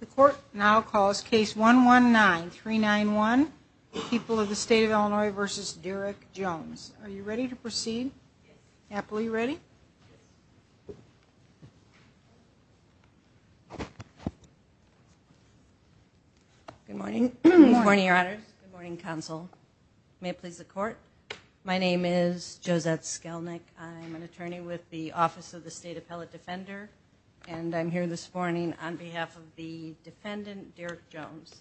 The court now calls case one one nine three nine one the people of the state of Illinois versus Derek Jones Are you ready to proceed? Happily ready Good morning morning your honor morning counsel may it please the court. My name is Josette Skelnick I'm an attorney with the office of the state appellate defender And I'm here this morning on behalf of the defendant Derek Jones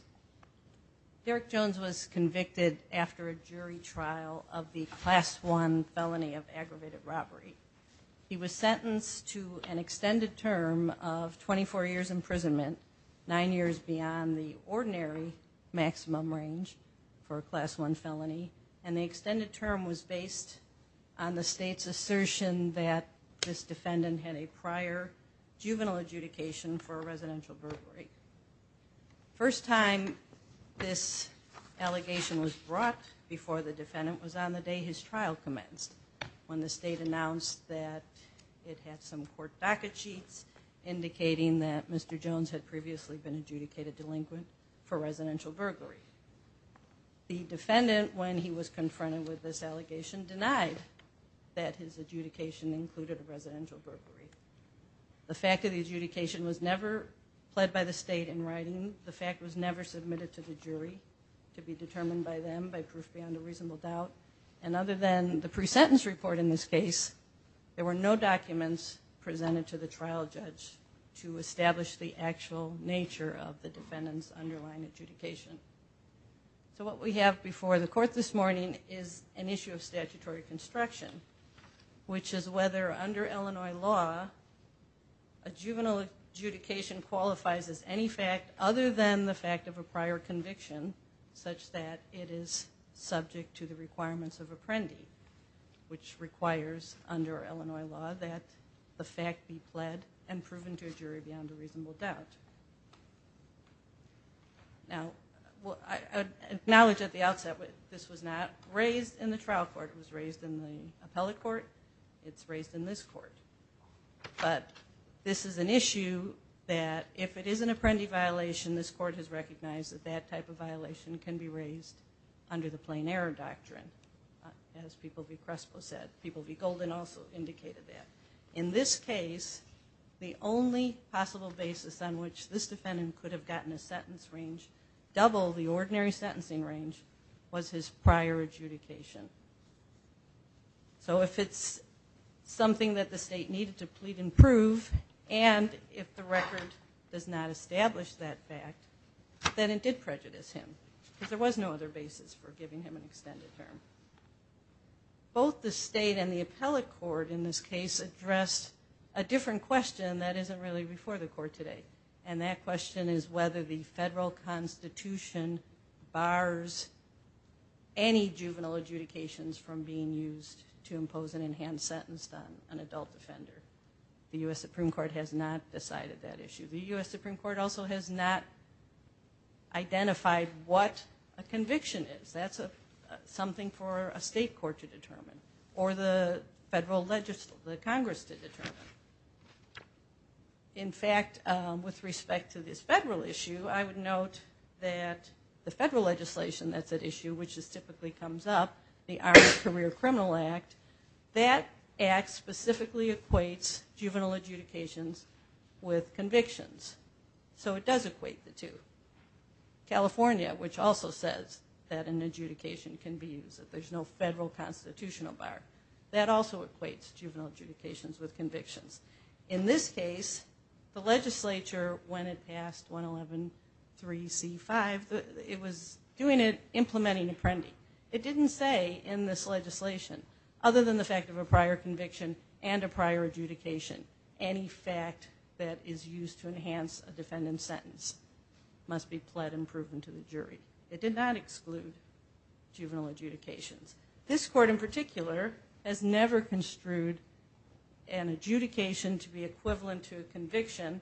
Derek Jones was convicted after a jury trial of the class one felony of aggravated robbery He was sentenced to an extended term of 24 years imprisonment nine years beyond the ordinary Maximum range for a class one felony and the extended term was based on the state's assertion that This defendant had a prior juvenile adjudication for a residential burglary first time this Allegation was brought before the defendant was on the day his trial commenced when the state announced that It had some court docket sheets Indicating that mr.. Jones had previously been adjudicated delinquent for residential burglary The defendant when he was confronted with this allegation denied that his adjudication included a residential burglary The fact of the adjudication was never Pled by the state in writing the fact was never submitted to the jury To be determined by them by proof beyond a reasonable doubt and other than the pre-sentence report in this case There were no documents Presented to the trial judge to establish the actual nature of the defendants underlying adjudication So what we have before the court this morning is an issue of statutory construction which is whether under Illinois law a juvenile adjudication qualifies as any fact other than the fact of a prior conviction such that it is subject to the requirements of apprendi Which requires under Illinois law that the fact be pled and proven to a jury beyond a reasonable doubt Now Knowledge at the outset, but this was not raised in the trial court was raised in the appellate court. It's raised in this court But this is an issue That if it is an apprendi violation this court has recognized that that type of violation can be raised under the plain error doctrine As people be Crespo said people be golden also indicated that in this case The only possible basis on which this defendant could have gotten a sentence range Double the ordinary sentencing range was his prior adjudication so if it's Something that the state needed to plead and prove and if the record does not establish that fact Then it did prejudice him because there was no other basis for giving him an extended term Both the state and the appellate court in this case addressed a different question That isn't really before the court today. And that question is whether the federal Constitution bars Any juvenile adjudications from being used to impose an enhanced sentence on an adult offender The US Supreme Court has not decided that issue the US Supreme Court also has not Identified what a conviction is that's a Something for a state court to determine or the federal legislature the Congress to determine In fact with respect to this federal issue. I would note that the federal legislation That's at issue which is typically comes up the our career criminal act that acts specifically equates juvenile adjudications with convictions So it does equate the two California which also says that an adjudication can be used that there's no federal constitutional bar that also equates juvenile adjudications with convictions in this case the legislature when it passed 111 3c 5 it was doing it implementing a friendie It didn't say in this legislation other than the fact of a prior conviction and a prior adjudication Any fact that is used to enhance a defendant sentence? Must be pled and proven to the jury it did not exclude Juvenile adjudications this court in particular has never construed an adjudication to be equivalent to a conviction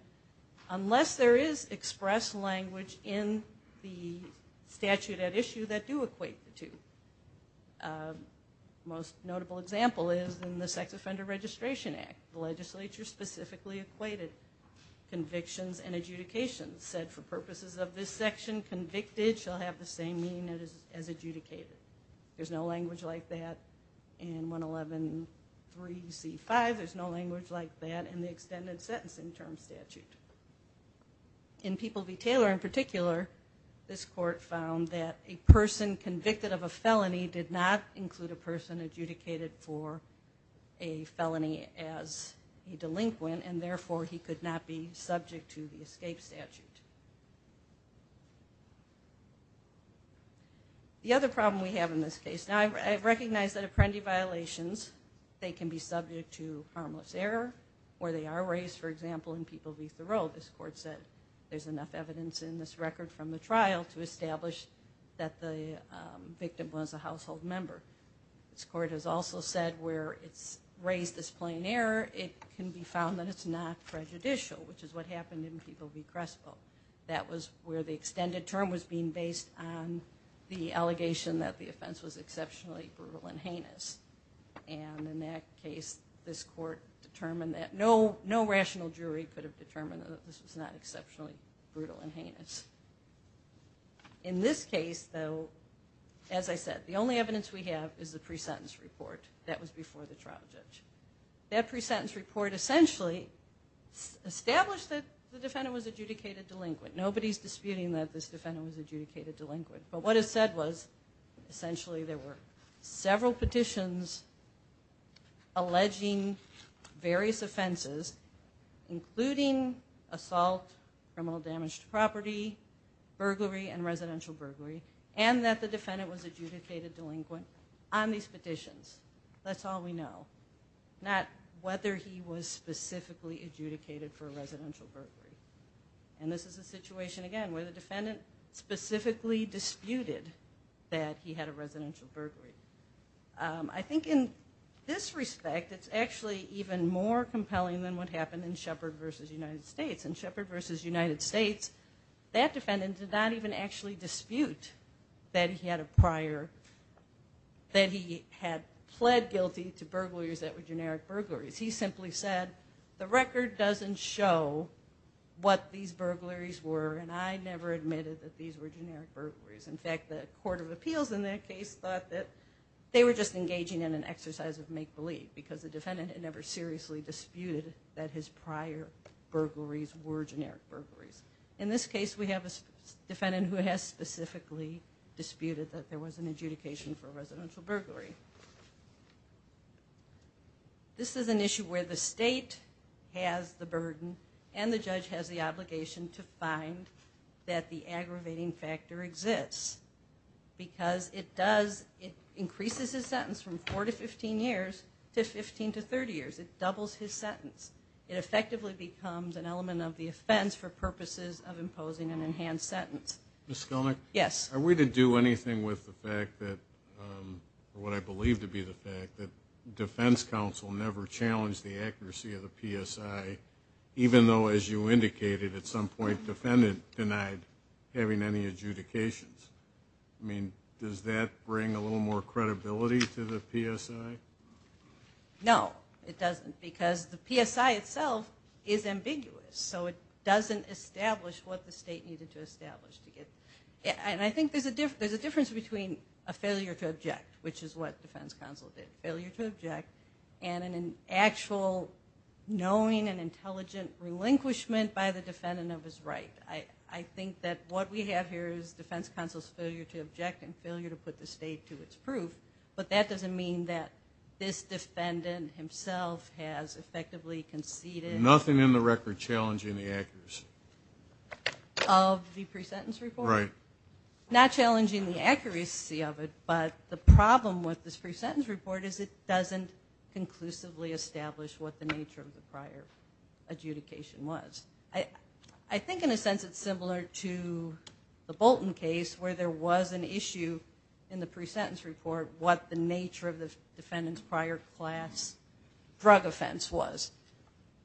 Unless there is express language in the statute at issue that do equate the two Most notable example is in the sex offender registration act the legislature specifically equated Convictions and adjudications said for purposes of this section convicted shall have the same meaning that is as adjudicated There's no language like that and 111 3 c 5 there's no language like that and the extended sentencing term statute In people be Taylor in particular this court found that a person convicted of a felony did not include a person adjudicated for a felony as A delinquent and therefore he could not be subject to the escape statute The other problem we have in this case now I recognize that a friendie violations they can be subject to harmless error Or they are raised for example in people be thorough this court said there's enough evidence in this record from the trial to establish that the Victim was a household member This court has also said where it's raised this plain error. It can be found that it's not prejudicial Which is what happened in people be Crespo that was where the extended term was being based on the allegation that the offense was exceptionally brutal and heinous and In that case this court determined that no no rational jury could have determined that this was not exceptionally brutal and heinous In this case though As I said the only evidence we have is the pre-sentence report that was before the trial judge that pre-sentence report essentially Established that the defendant was adjudicated delinquent nobody's disputing that this defendant was adjudicated delinquent, but what it said was Essentially there were several petitions Alleging various offenses including assault from all damaged property Burglary and residential burglary and that the defendant was adjudicated delinquent on these petitions. That's all we know Not whether he was specifically adjudicated for a residential burglary And this is a situation again where the defendant specifically disputed that he had a residential burglary I think in this respect It's actually even more compelling than what happened in Shepard versus United States and Shepard versus United States That defendant did not even actually dispute that he had a prior That he had pled guilty to burglaries that were generic burglaries. He simply said the record doesn't show What these burglaries were and I never admitted that these were generic burglaries in fact the Court of Appeals in that case thought that They were just engaging in an exercise of make-believe because the defendant had never seriously disputed that his prior Burglaries were generic burglaries in this case. We have a defendant who has specifically Disputed that there was an adjudication for a residential burglary This is an issue where the state has the burden and the judge has the obligation to find That the aggravating factor exists Because it does it increases his sentence from 4 to 15 years to 15 to 30 years it doubles his sentence It effectively becomes an element of the offense for purposes of imposing an enhanced sentence. Ms. Skelnick? Yes, are we to do anything with the fact that? What I believe to be the fact that defense counsel never challenged the accuracy of the PSI Even though as you indicated at some point defendant denied having any adjudications I mean does that bring a little more credibility to the PSI? No, it doesn't because the PSI itself is ambiguous So it doesn't establish what the state needed to establish to get And I think there's a difference there's a difference between a failure to object which is what defense counsel did failure to object and in an actual Knowing and intelligent relinquishment by the defendant of his right I I think that what we have here is defense counsel's failure to object and failure to put the state to its proof But that doesn't mean that this defendant himself has effectively conceded nothing in the record challenging the actors Of the pre-sentence report right not challenging the accuracy of it But the problem with this pre-sentence report is it doesn't conclusively establish what the nature of the prior? adjudication was I I think in a sense it's similar to The Bolton case where there was an issue in the pre-sentence report what the nature of the defendant's prior class drug offense was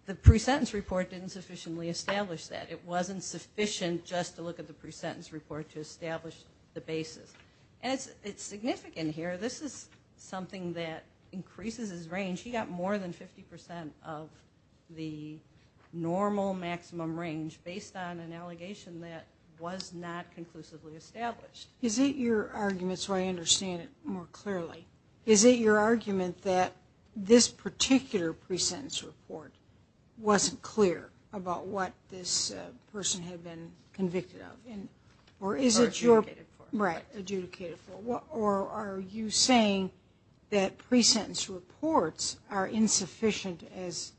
The pre-sentence report didn't sufficiently establish that it wasn't sufficient just to look at the pre-sentence report to establish the basis And it's it's significant here. This is something that increases his range he got more than 50% of the Normal maximum range based on an allegation that was not conclusively established Is it your argument so I understand it more clearly is it your argument that? this particular pre-sentence report Wasn't clear about what this person had been convicted of in or is it you're right? adjudicated for what or are you saying that pre-sentence reports are insufficient as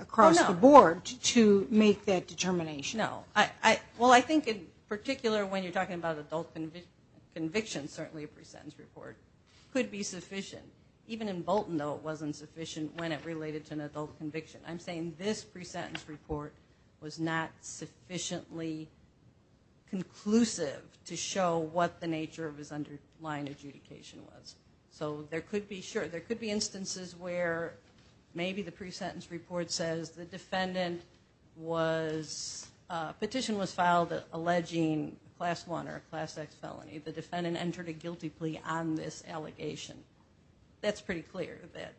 Across the board to make that determination. No I well, I think in particular when you're talking about adult Conviction certainly a pre-sentence report could be sufficient even in Bolton though. It wasn't sufficient when it related to an adult conviction I'm saying this pre-sentence report was not sufficiently Conclusive to show what the nature of his underlying adjudication was so there could be sure there could be instances where Maybe the pre-sentence report says the defendant was Petition was filed alleging class one or a class X felony the defendant entered a guilty plea on this allegation That's pretty clear that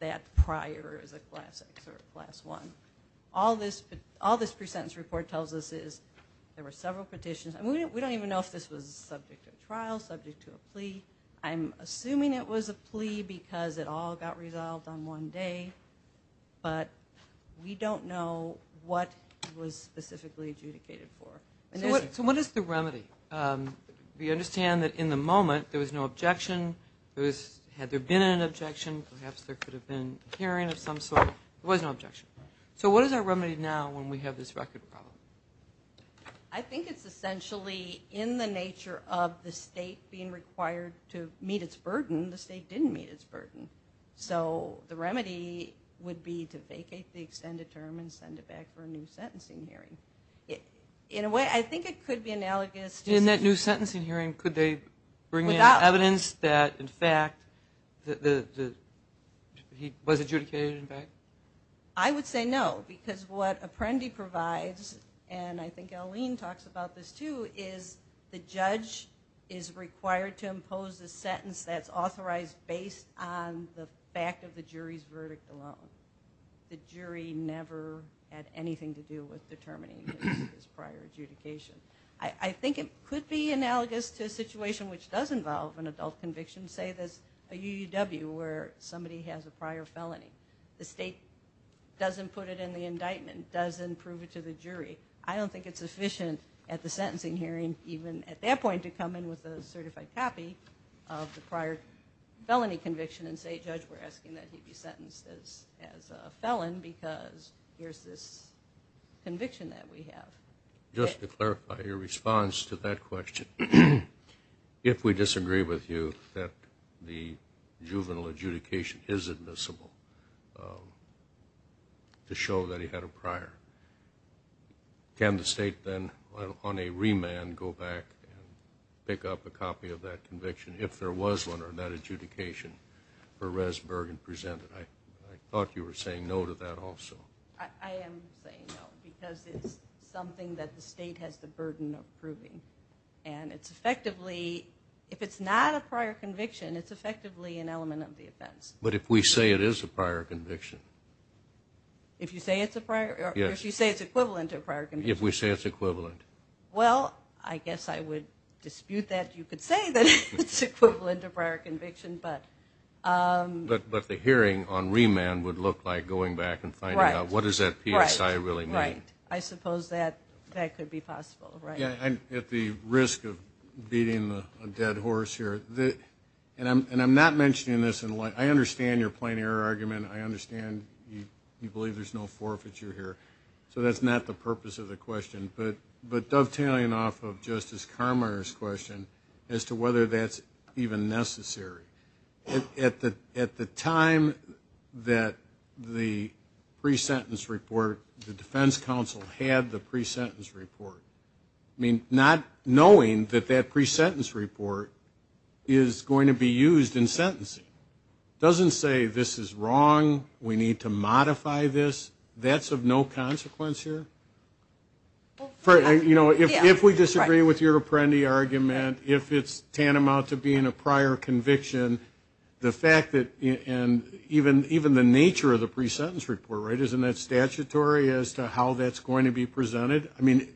that prior is a class X or a class one All this all this pre-sentence report tells us is there were several petitions I mean, we don't even know if this was subject to a trial subject to a plea I'm assuming it was a plea because it all got resolved on one day But we don't know what was specifically adjudicated for so what is the remedy? We understand that in the moment. There was no objection There was had there been an objection perhaps there could have been hearing of some sort it was no objection So what is our remedy now when we have this record problem? I? Meet its burden the state didn't meet its burden So the remedy would be to vacate the extended term and send it back for a new sentencing hearing Yeah, in a way. I think it could be analogous in that new sentencing hearing could they bring out evidence that in fact? the He was adjudicated in fact I would say no because what apprendi provides and I think Eileen talks about this too is the judge is Required to impose a sentence that's authorized based on the fact of the jury's verdict alone The jury never had anything to do with determining his prior adjudication I think it could be analogous to a situation which does involve an adult conviction say this a UW where somebody has a prior felony the state Doesn't put it in the indictment doesn't prove it to the jury I don't think it's efficient at the sentencing hearing even at that point to come in with a certified copy of the prior Felony conviction and say judge. We're asking that he'd be sentenced as as a felon because here's this Conviction that we have just to clarify your response to that question If we disagree with you that the juvenile adjudication is admissible To show that he had a prior Can the state then on a remand go back? Pick up a copy of that conviction if there was one or that adjudication for res Bergen presented I thought you were saying no to that also Something that the state has the burden of proving and it's effectively if it's not a prior conviction It's effectively an element of the offense, but if we say it is a prior conviction If you say it's a prior yes, you say it's equivalent to a prior condition if we say it's equivalent well, I guess I would dispute that you could say that it's equivalent of prior conviction, but But but the hearing on remand would look like going back and find out what is that piece? I really mean right I suppose that that could be possible right yeah I'm at the risk of beating the dead horse here the and I'm and I'm not mentioning this in light I understand your plain error argument. I understand you you believe there's no forfeiture here So that's not the purpose of the question But but dovetailing off of justice Carminer's question as to whether that's even necessary at the at the time that the Presentence report the defense counsel had the pre-sentence report. I mean not knowing that that pre-sentence report Is going to be used in sentencing? Doesn't say this is wrong. We need to modify this that's of no consequence here For you know if we disagree with your Apprendi argument if it's tantamount to being a prior conviction the fact that and Even even the nature of the pre-sentence report right isn't that statutory as to how that's going to be presented. I mean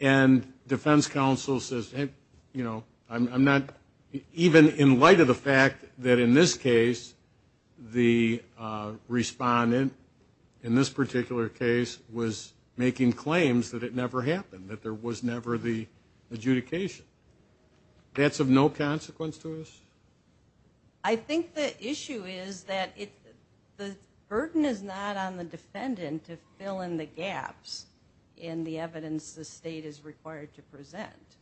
and Defense counsel says hey, you know I'm not even in light of the fact that in this case the Respondent in this particular case was making claims that it never happened that there was never the adjudication That's of no consequence to us. I Think the issue is that it the burden is not on the defendant to fill in the gaps in the evidence the state is required to present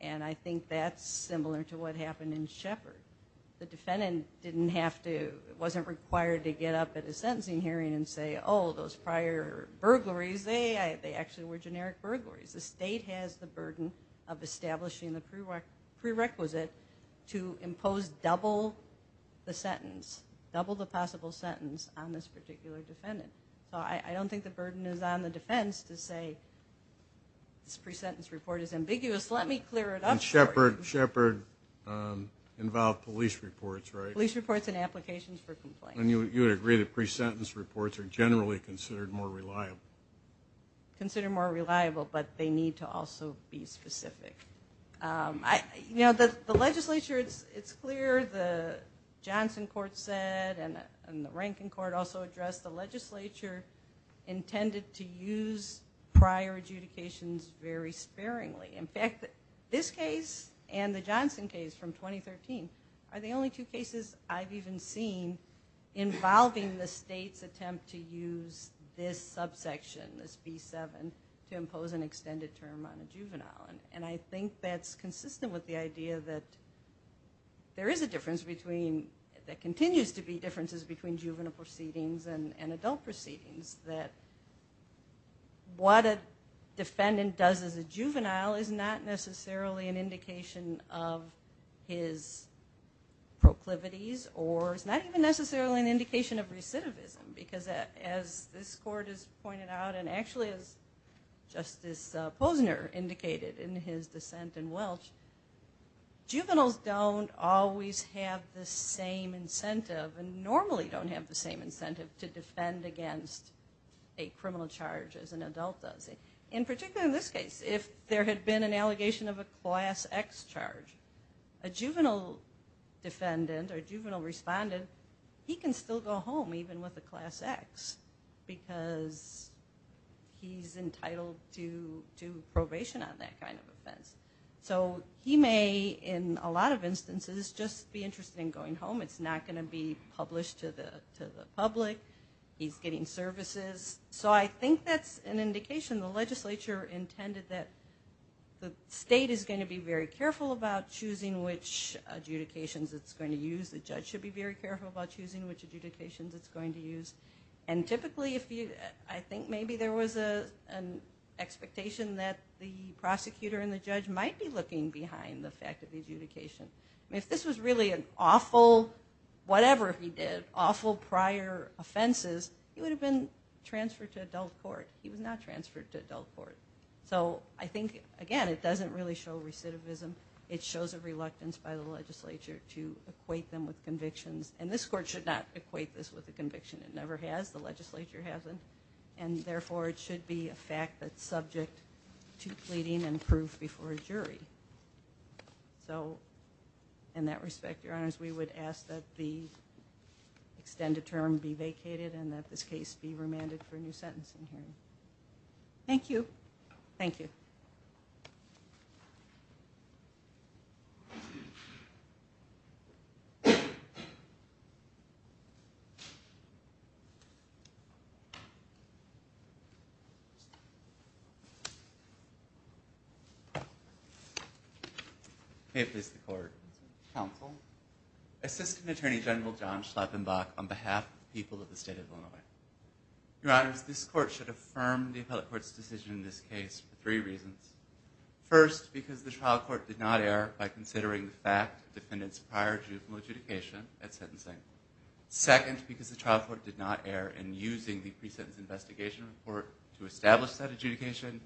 and I think that's similar to what happened in Shepard the defendant didn't have to it wasn't required to get up at a sentencing hearing and Say oh those prior Burglaries they they actually were generic burglaries the state has the burden of establishing the prerogative prerequisite to impose double The sentence double the possible sentence on this particular defendant, so I don't think the burden is on the defense to say This pre-sentence report is ambiguous. Let me clear it up and Shepard Shepard Involved police reports right police reports and applications for complaint, and you would agree the pre-sentence reports are generally considered more reliable Consider more reliable, but they need to also be specific I you know that the legislature. It's it's clear the Johnson court said and and the ranking court also addressed the legislature intended to use prior Adjudications very sparingly in fact this case and the Johnson case from 2013 are the only two cases I've even seen Involving the state's attempt to use this subsection this b7 to impose an extended term on a juvenile and and I think that's consistent with the idea that there is a difference between that continues to be differences between juvenile proceedings and adult proceedings that What a defendant does as a juvenile is not necessarily an indication of his Proclivities or it's not even necessarily an indication of recidivism because that as this court is pointed out and actually as Justice Posner indicated in his dissent in Welch juveniles don't always have the same incentive and normally don't have the same incentive to defend against a criminal charge as an adult does it in particular in this case if there had been an allegation of a class X charge a juvenile Defendant or juvenile respondent he can still go home even with the class X because He's entitled to to probation on that kind of offense So he may in a lot of instances just be interested in going home It's not going to be published to the public. He's getting services So I think that's an indication the legislature intended that The state is going to be very careful about choosing which adjudications it's going to use the judge should be very careful about choosing which adjudications it's going to use and typically if you I think maybe there was a Expectation that the prosecutor and the judge might be looking behind the fact of the adjudication if this was really an awful Whatever, he did awful prior offenses. He would have been transferred to adult court He was not transferred to adult court, so I think again. It doesn't really show recidivism It shows a reluctance by the legislature to equate them with convictions and this court should not equate this with the conviction It never has the legislature hasn't and therefore it should be a fact that subject to pleading and proof before a jury so in Respect your honors. We would ask that the Extended term be vacated and that this case be remanded for a new sentencing hearing Thank you. Thank you I Please the court counsel Assistant Attorney General John Schlappenbach on behalf of the people of the state of Illinois Your honors this court should affirm the appellate courts decision in this case for three reasons First because the trial court did not err by considering the fact defendants prior to from adjudication at sentencing second because the trial court did not err and using the pre-sentence investigation report to establish that adjudication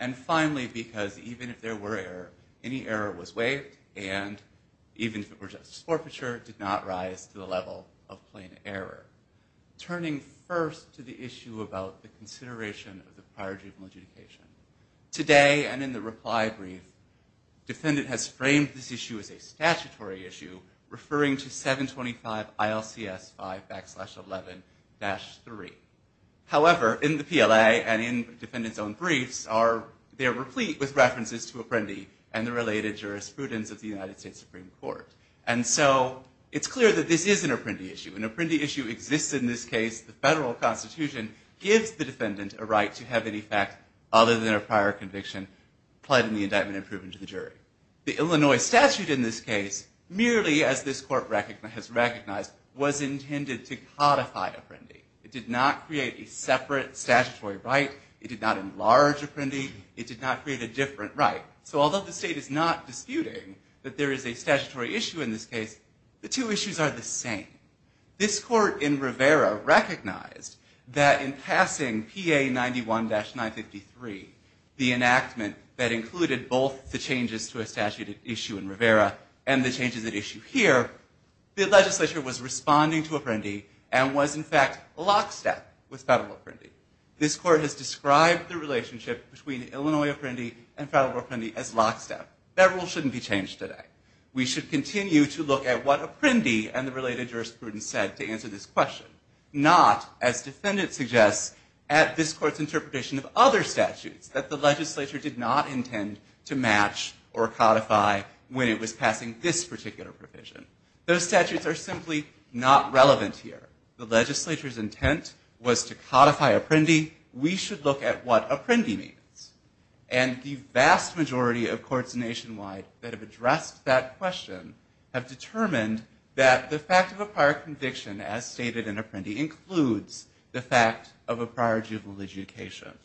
and finally because even if there were error any error was waived and Even if it were just forfeiture did not rise to the level of plain error Turning first to the issue about the consideration of the prior juvenile adjudication Today and in the reply brief Defendant has framed this issue as a statutory issue referring to 725 ILC s5 11-3 however in the PLA and in defendants own briefs are They are replete with references to a friendly and the related jurisprudence of the United States Supreme Court And so it's clear that this is an apprentice you an apprentice you exist in this case The federal Constitution gives the defendant a right to have any fact other than a prior conviction Plotting the indictment and proven to the jury the Illinois statute in this case Merely as this court record has recognized was intended to codify a friendly It did not create a separate statutory right it did not enlarge a friendly It did not create a different right so although the state is not Disputing that there is a statutory issue in this case the two issues are the same This court in Rivera recognized that in passing PA 91-953 the enactment that included both the changes to a statute issue in Rivera and the changes at issue here The legislature was responding to a friendly and was in fact lockstep with federal friendly This court has described the relationship between Illinois a friendly and federal friendly as lockstep that rule shouldn't be changed today We should continue to look at what a friendly and the related jurisprudence said to answer this question Not as defendant suggests at this court's interpretation of other statutes that the legislature did not intend to match or codify When it was passing this particular provision those statutes are simply not relevant here the legislature's intent was to codify a friendly we should look at what a friendly means and The vast majority of courts nationwide that have addressed that question have determined that the fact of a prior conviction as stated in Apprendi includes the fact of a prior juvenile adjudication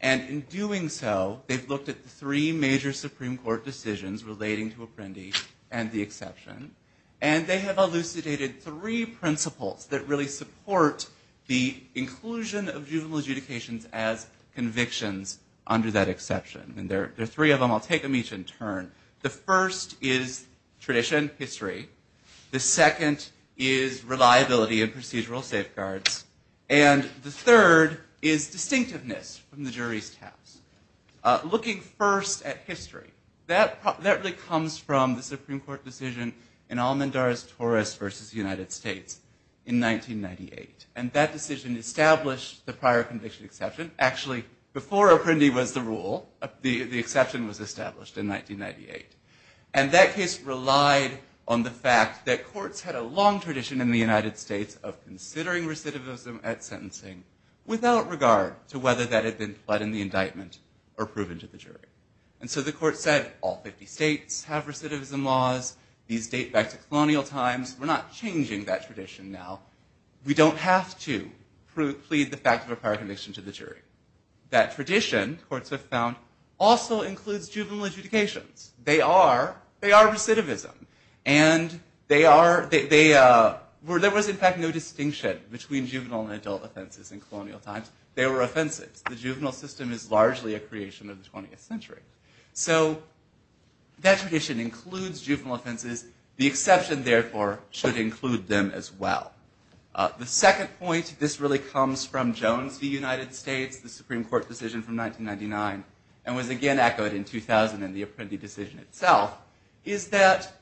and in doing so they've looked at the three major Supreme Court decisions relating to Apprendi and the exception and they have elucidated three principles that really support the inclusion of juvenile adjudications as Convictions under that exception and there are three of them. I'll take them each in turn the first is Tradition history the second is reliability and procedural safeguards and The third is distinctiveness from the jury's task Looking first at history that that really comes from the Supreme Court decision in Almandar's Torres versus United States in 1998 and that decision established the prior conviction exception actually before Apprendi was the rule the the exception was established in 1998 and That case relied on the fact that courts had a long tradition in the United States of considering recidivism at sentencing Without regard to whether that had been fled in the indictment or proven to the jury And so the court said all 50 states have recidivism laws these date back to colonial times We're not changing that tradition now We don't have to prove plead the fact of a prior conviction to the jury that tradition courts have found Also includes juvenile adjudications. They are they are recidivism and They are they were there was in fact no distinction between juvenile and adult offenses in colonial times They were offenses. The juvenile system is largely a creation of the 20th century. So That tradition includes juvenile offenses the exception therefore should include them as well the second point this really comes from Jones the United States the Supreme Court decision from 1999 and was again echoed in 2000 and the Apprendi decision itself is that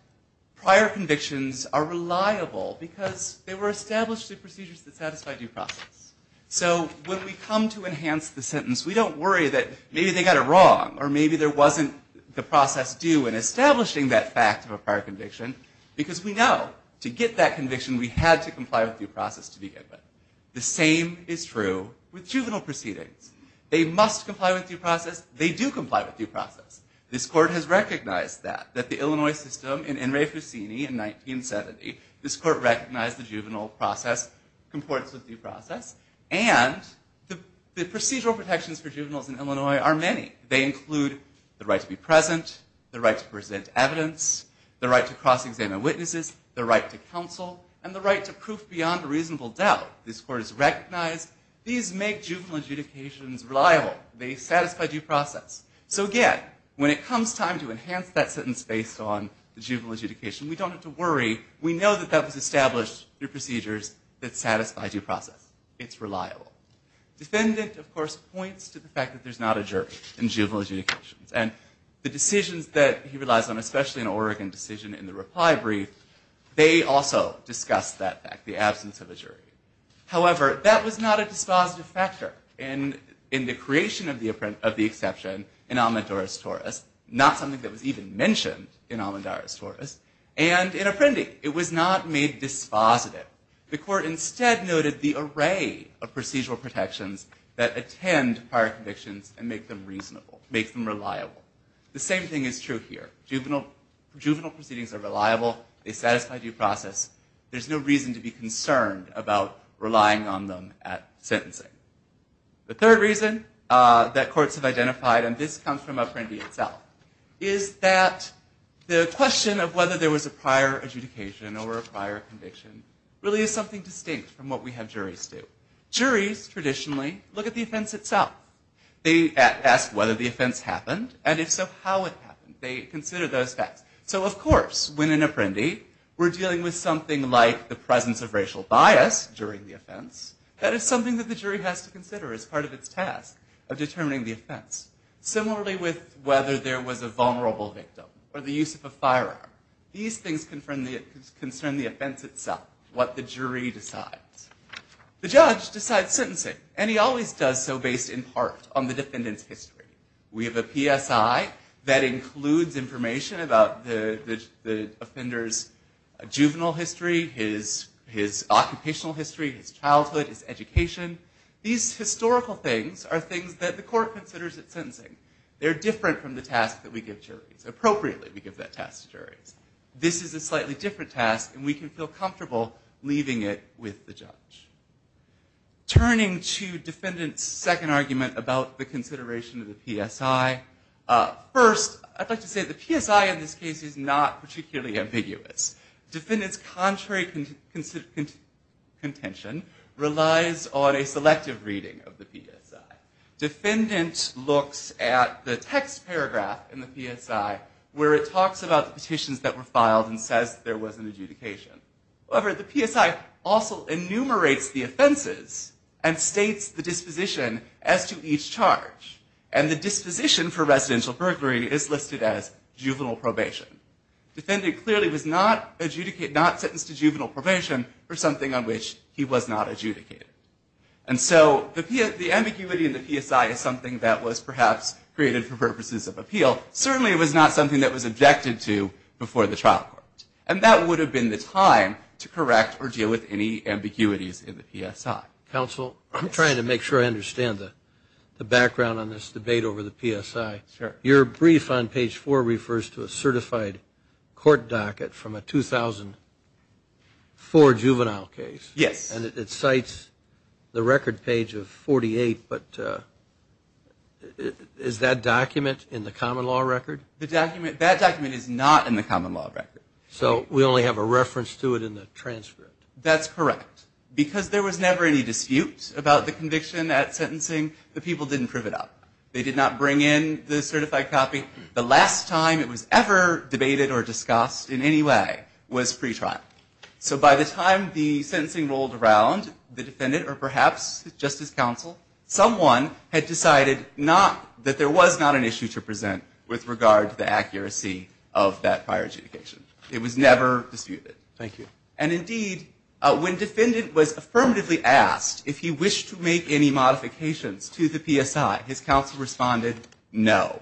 Prior convictions are reliable because they were established the procedures that satisfy due process So when we come to enhance the sentence, we don't worry that maybe they got it wrong Or maybe there wasn't the process due and establishing that fact of a prior conviction Because we know to get that conviction we had to comply with due process to begin with the same is true With juvenile proceedings they must comply with due process. They do comply with due process This court has recognized that that the Illinois system in in Ray Fusini in 1970 this court recognized the juvenile process comports with due process and The procedural protections for juveniles in Illinois are many they include the right to be present the right to present evidence The right to cross-examine witnesses the right to counsel and the right to proof beyond a reasonable doubt this court is recognized These make juvenile adjudications reliable they satisfy due process So again when it comes time to enhance that sentence based on the juvenile adjudication, we don't have to worry We know that that was established through procedures that satisfy due process. It's reliable Defendant of course points to the fact that there's not a jury in juvenile adjudications And the decisions that he relies on especially an Oregon decision in the reply brief They also discussed that fact the absence of a jury however That was not a dispositive factor and in the creation of the imprint of the exception in Almond Doris Taurus Not something that was even mentioned in Almond Doris Taurus and in appending it was not made Dispositive the court instead noted the array of procedural protections that attend prior convictions and make them reasonable Make them reliable the same thing is true here juvenile juvenile proceedings are reliable. They satisfy due process There's no reason to be concerned about relying on them at sentencing The third reason that courts have identified and this comes from a friendly itself is that? The question of whether there was a prior adjudication or a prior conviction really is something distinct from what we have juries do Juries traditionally look at the offense itself They asked whether the offense happened and if so how it happened they consider those facts so of course when an apprendee We're dealing with something like the presence of racial bias during the offense That is something that the jury has to consider as part of its task of determining the offense Similarly with whether there was a vulnerable victim or the use of a firearm these things confirm the concern the offense itself what the jury decides The judge decides sentencing and he always does so based in part on the defendants history We have a PSI that includes information about the the offenders Juvenile history his his occupational history his childhood his education These historical things are things that the court considers at sentencing They're different from the task that we give juries appropriately we give that task to juries This is a slightly different task, and we can feel comfortable leaving it with the judge Turning to defendants second argument about the consideration of the PSI First I'd like to say the PSI in this case is not particularly ambiguous defendants contrary Consistent Contention relies on a selective reading of the PSI Defendant looks at the text paragraph in the PSI where it talks about the petitions that were filed and says there was an adjudication however the PSI also enumerates the offenses and states the disposition as to each charge and the Disposition for residential burglary is listed as juvenile probation Defendant clearly was not adjudicate not sentenced to juvenile probation or something on which he was not adjudicated and So the P at the ambiguity in the PSI is something that was perhaps created for purposes of appeal Certainly it was not something that was objected to Before the trial court and that would have been the time to correct or deal with any ambiguities in the PSI counsel I'm trying to make sure I understand the the background on this debate over the PSI Your brief on page 4 refers to a certified court docket from a 2004 juvenile case yes, and it cites the record page of 48, but Is that document in the common law record the document that document is not in the common law record So we only have a reference to it in the transcript That's correct because there was never any disputes about the conviction at sentencing the people didn't prove it up They did not bring in the certified copy the last time it was ever debated or discussed in any way was pretrial So by the time the sentencing rolled around the defendant or perhaps Justice counsel someone had decided not that there was not an issue to present with regard to the accuracy of that prior Adjudication it was never disputed Thank you and indeed when defendant was affirmatively asked if he wished to make any Modifications to the PSI his counsel responded no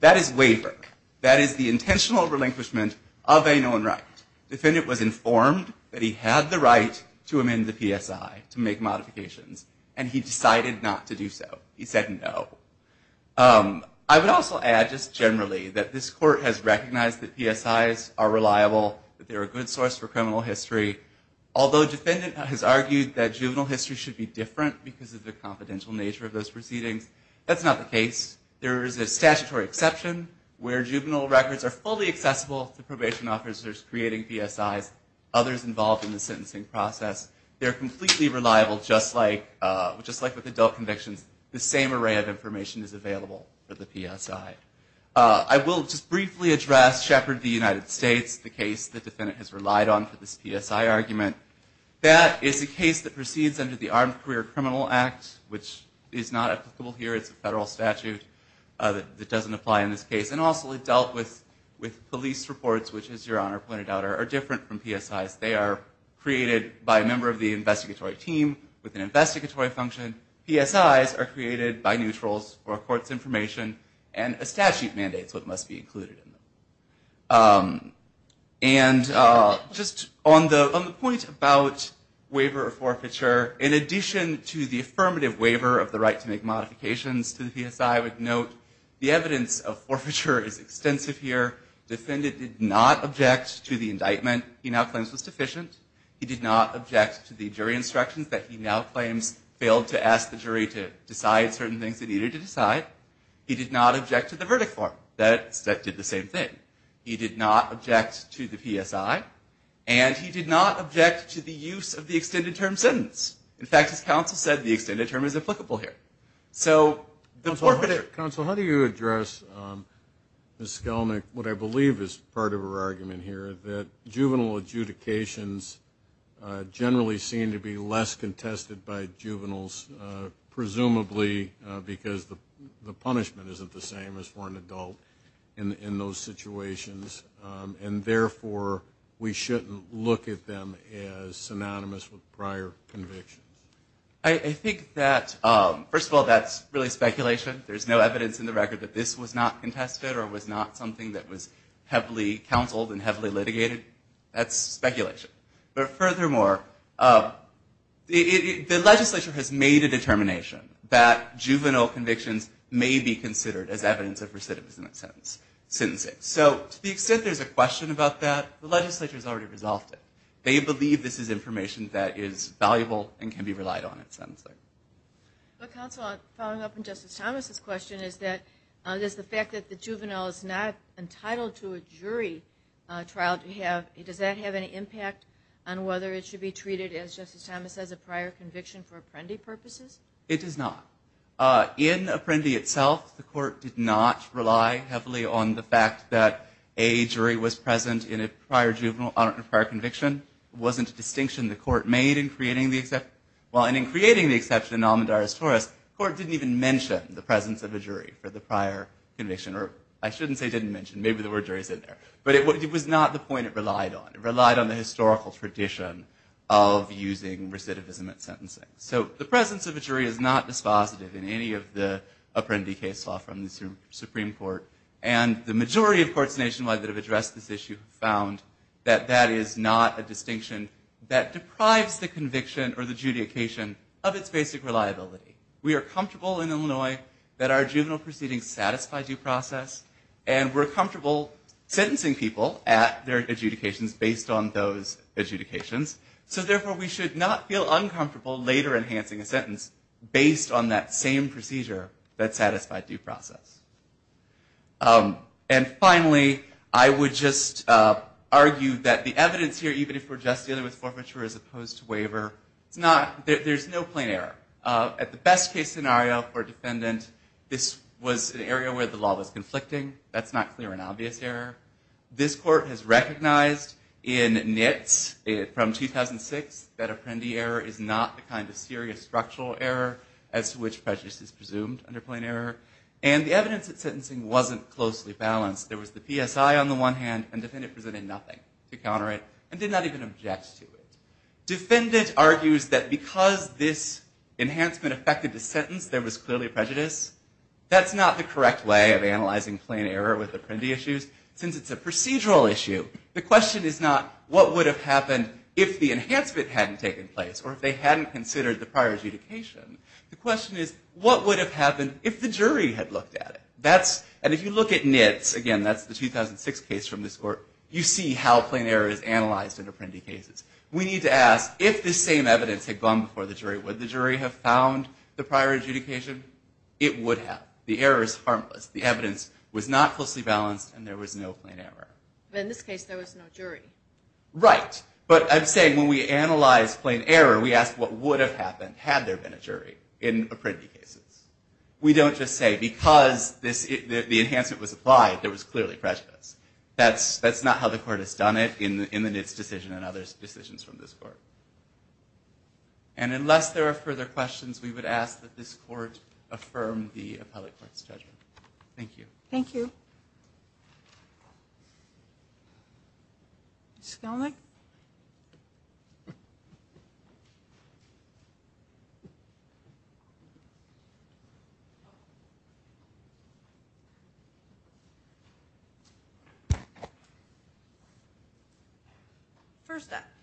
that is waver That is the intentional relinquishment of a known right Defendant was informed that he had the right to amend the PSI to make modifications And he decided not to do so he said no I would also add just generally that this court has recognized that PSI's are reliable that they're a good source for criminal history Although defendant has argued that juvenile history should be different because of the confidential nature of those proceedings That's not the case There is a statutory exception where juvenile records are fully accessible to probation officers creating PSI's Others involved in the sentencing process They're completely reliable just like just like with adult convictions the same array of information is available for the PSI I will just briefly address Shepard the United States the case the defendant has relied on for this PSI argument That is the case that proceeds under the Armed Career Criminal Act which is not applicable here. It's a federal statute That doesn't apply in this case and also it dealt with with police reports Which is your honor pointed out are different from PSI's they are Created by a member of the investigatory team with an investigatory function PSI's are created by neutrals or courts information And a statute mandates what must be included in them and Just on the on the point about Waiver or forfeiture in addition to the affirmative waiver of the right to make modifications to the PSI I would note the evidence of forfeiture is extensive here Defendant did not object to the indictment he now claims was deficient He did not object to the jury instructions that he now claims Failed to ask the jury to decide certain things they needed to decide He did not object to the verdict form that that did the same thing He did not object to the PSI and he did not object to the use of the extended term sentence In fact his counsel said the extended term is applicable here. So the forfeited counsel. How do you address? The skelmic what I believe is part of her argument here that juvenile adjudications Generally seem to be less contested by juveniles Presumably because the the punishment isn't the same as for an adult in in those situations And therefore we shouldn't look at them as synonymous with prior convictions I think that first of all, that's really speculation There's no evidence in the record that this was not contested or was not something that was heavily counseled and heavily litigated That's speculation, but furthermore The legislature has made a determination that Juvenile convictions may be considered as evidence of recidivism a sentence sentencing So to the extent there's a question about that. The legislature has already resolved it They believe this is information that is valuable and can be relied on it. Sounds like This question is that there's the fact that the juvenile is not entitled to a jury Trial to have it does that have any impact on whether it should be treated as justice Thomas as a prior conviction for Apprendi purposes It does not in Apprendi itself The court did not rely heavily on the fact that a jury was present in a prior juvenile on a prior conviction Wasn't a distinction the court made in creating the except well and in creating the exception almond artists for us court didn't even mention The presence of a jury for the prior conviction or I shouldn't say didn't mention But it was not the point it relied on it relied on the historical tradition of using recidivism at sentencing so the presence of a jury is not dispositive in any of the Apprendi case law from the Supreme Court and the majority of courts nationwide that have addressed this issue found That that is not a distinction that deprives the conviction or the judication of its basic reliability We are comfortable in Illinois that our juvenile proceedings satisfy due process and we're comfortable Sentencing people at their adjudications based on those Adjudications, so therefore we should not feel uncomfortable later enhancing a sentence based on that same procedure that satisfied due process and finally I would just Argue that the evidence here even if we're just dealing with forfeiture as opposed to waiver It's not there's no plain error at the best case scenario or defendant This was an area where the law was conflicting. That's not clear an obvious error This court has recognized in Nits it from 2006 that Apprendi error is not the kind of serious structural error as to which prejudice is presumed Under plain error and the evidence that sentencing wasn't closely balanced There was the PSI on the one hand and defendant presented nothing to counter it and did not even object to it Defendant argues that because this enhancement affected the sentence there was clearly prejudice That's not the correct way of analyzing plain error with Apprendi issues since it's a procedural issue The question is not what would have happened if the enhancement hadn't taken place or if they hadn't considered the prior adjudication The question is what would have happened if the jury had looked at it? That's and if you look at Nits again, that's the 2006 case from this court You see how plain error is analyzed in Apprendi cases We need to ask if this same evidence had gone before the jury would the jury have found the prior adjudication? It would have the error is harmless. The evidence was not closely balanced and there was no plain error in this case There was no jury, right? But I'm saying when we analyze plain error, we asked what would have happened had there been a jury in Apprendi cases We don't just say because this the enhancement was applied. There was clearly prejudice that's that's not how the court has done it in the eminence decision and others decisions from this court and Unless there are further questions, we would ask that this court affirm the appellate court's judgment. Thank you. Thank you It's going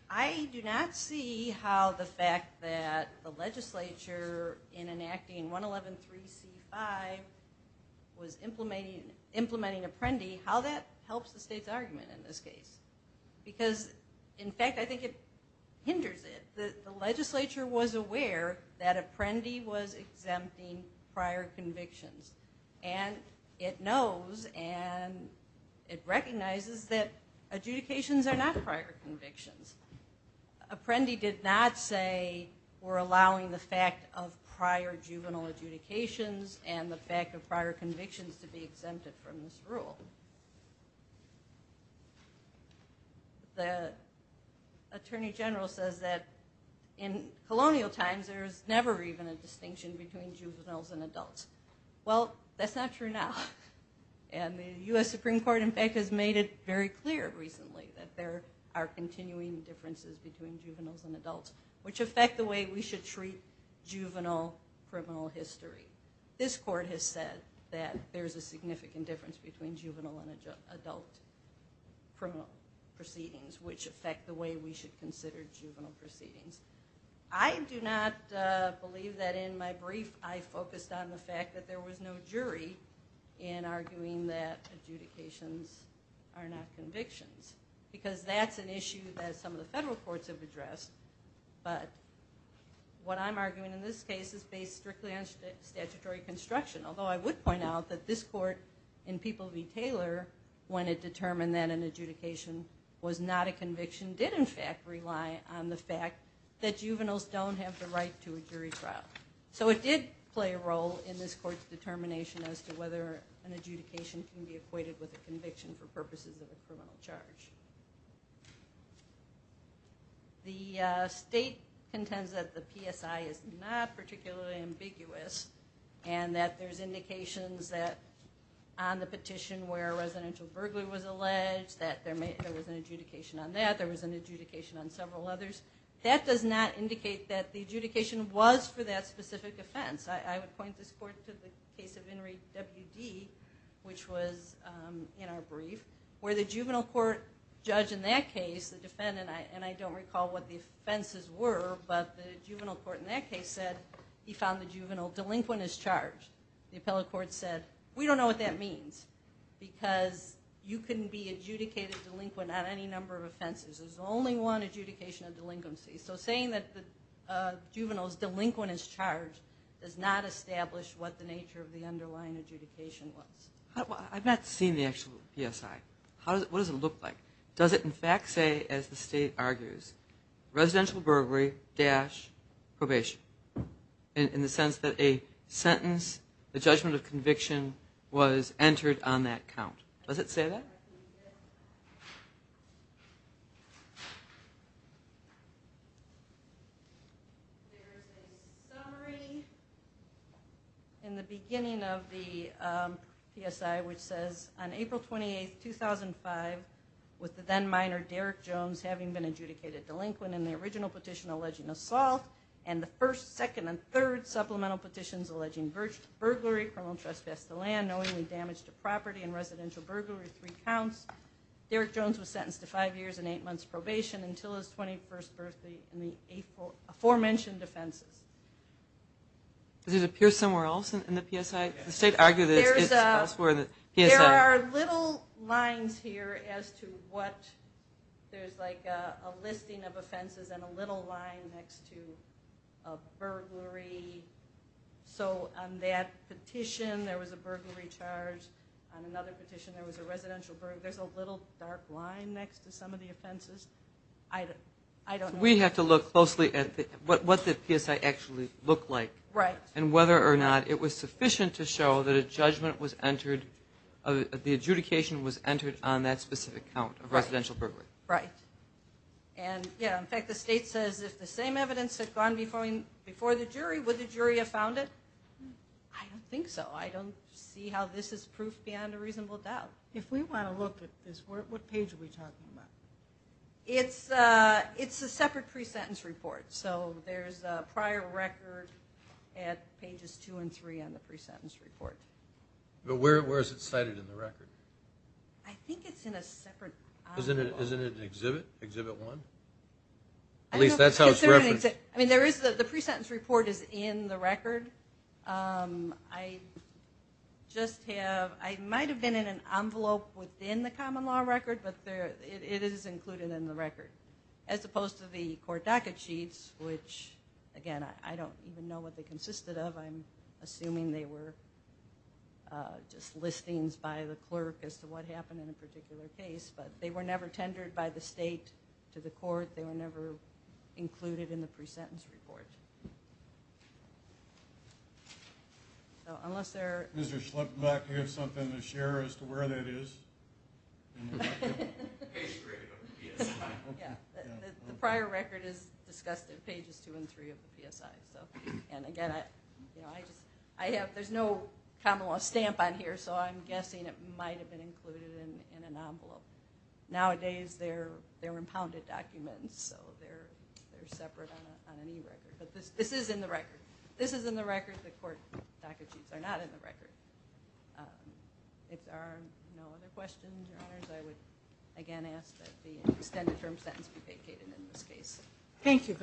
I Do not see how the fact that the legislature in enacting 111 3 c5 Was implementing implementing Apprendi how that helps the state's argument in this case? Because in fact, I think it hinders it the legislature was aware that Apprendi was exempting prior convictions and it knows and It recognizes that adjudications are not prior convictions Apprendi did not say we're allowing the fact of prior juvenile adjudications and the fact of prior convictions to be exempted from this rule The Attorney general says that in Colonial times there's never even a distinction between juveniles and adults. Well, that's not true now and The u.s. Supreme Court in fact has made it very clear recently that there are continuing differences between juveniles and adults Which affect the way we should treat? Juvenile criminal history this court has said that there's a significant difference between juvenile and adult criminal proceedings which affect the way we should consider juvenile proceedings I Do not believe that in my brief. I focused on the fact that there was no jury in arguing that adjudications are not convictions because that's an issue that some of the federal courts have addressed, but What I'm arguing in this case is based strictly on Statutory construction, although I would point out that this court in people v. Taylor when it determined that an adjudication Was not a conviction did in fact rely on the fact that juveniles don't have the right to a jury trial So it did play a role in this court's determination as to whether an adjudication can be equated with a conviction for purposes of a criminal charge The state contends that the PSI is not particularly ambiguous and that there's indications that On the petition where residential burglary was alleged that there may there was an adjudication on that there was an adjudication on several others That does not indicate that the adjudication was for that specific offense I would point this court to the case of Henry WD which was In our brief where the juvenile court judge in that case the defendant I and I don't recall what the offenses were but the juvenile court in that case said he found the juvenile delinquent is charged The appellate court said we don't know what that means Because you couldn't be adjudicated delinquent on any number of offenses, there's only one adjudication of delinquency so saying that the Juveniles delinquent is charged does not establish what the nature of the underlying adjudication was I've not seen the actual PSI. How does it look like does it in fact say as the state argues? residential burglary dash probation in the sense that a Sentence the judgment of conviction was entered on that count does it say that? In the beginning of the PSI which says on April 28th 2005 with the then minor Derek Jones having been adjudicated delinquent in the original petition alleging assault and the first second and third Supplemental petitions alleging virtue burglary criminal trespass the land knowingly damaged a property and residential burglary three counts Derek Jones was sentenced to five years and eight months probation until his 21st birthday in the April aforementioned offenses Does it appear somewhere else in the PSI the state argued? Yes, there are little lines here as to what? there's like a listing of offenses and a little line next to a burglary So on that petition there was a burglary charge on another petition. There was a residential burg There's a little dark line next to some of the offenses I I don't we have to look closely at what the PSI actually looked like right and whether or not it was sufficient to show that a judgment was entered of The adjudication was entered on that specific count of residential burglary, right? And yeah, in fact the state says if the same evidence had gone before me before the jury would the jury have found it I Don't think so. I don't see how this is proof beyond a reasonable doubt if we want to look at this work What page are we talking about? It's uh, it's a separate pre-sentence report. So there's a prior record at Pages two and three on the pre-sentence report But where is it cited in the record? I think it's in a separate isn't it? Isn't it an exhibit exhibit one? At least that's how it's written. I mean there is that the pre-sentence report is in the record I Just have I might have been in an envelope within the common law record But there it is included in the record as opposed to the court docket sheets Which again, I don't even know what they consisted of I'm assuming they were Just listings by the clerk as to what happened in a particular case, but they were never tendered by the state to the court They were never included in the pre-sentence report Unless there is there something to share as to where that is The prior record is discussed in pages two and three of the PSI so and again I have there's no common law stamp on here. So I'm guessing it might have been included in an envelope Nowadays, they're they're impounded documents. So they're Separate on any record, but this this is in the record. This is in the record. The court docket sheets are not in the record If there are no other questions, I would again ask that the extended term sentence be vacated in this case Thank You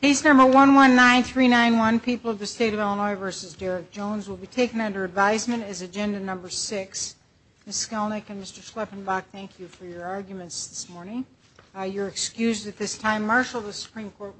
He's number one one nine three nine one people of the state of Illinois versus Derek Jones will be taken under advisement as agenda number Six miss Kellnick and mr. Schleppenbach. Thank you for your arguments this morning You're excused at this time marshal the Supreme Court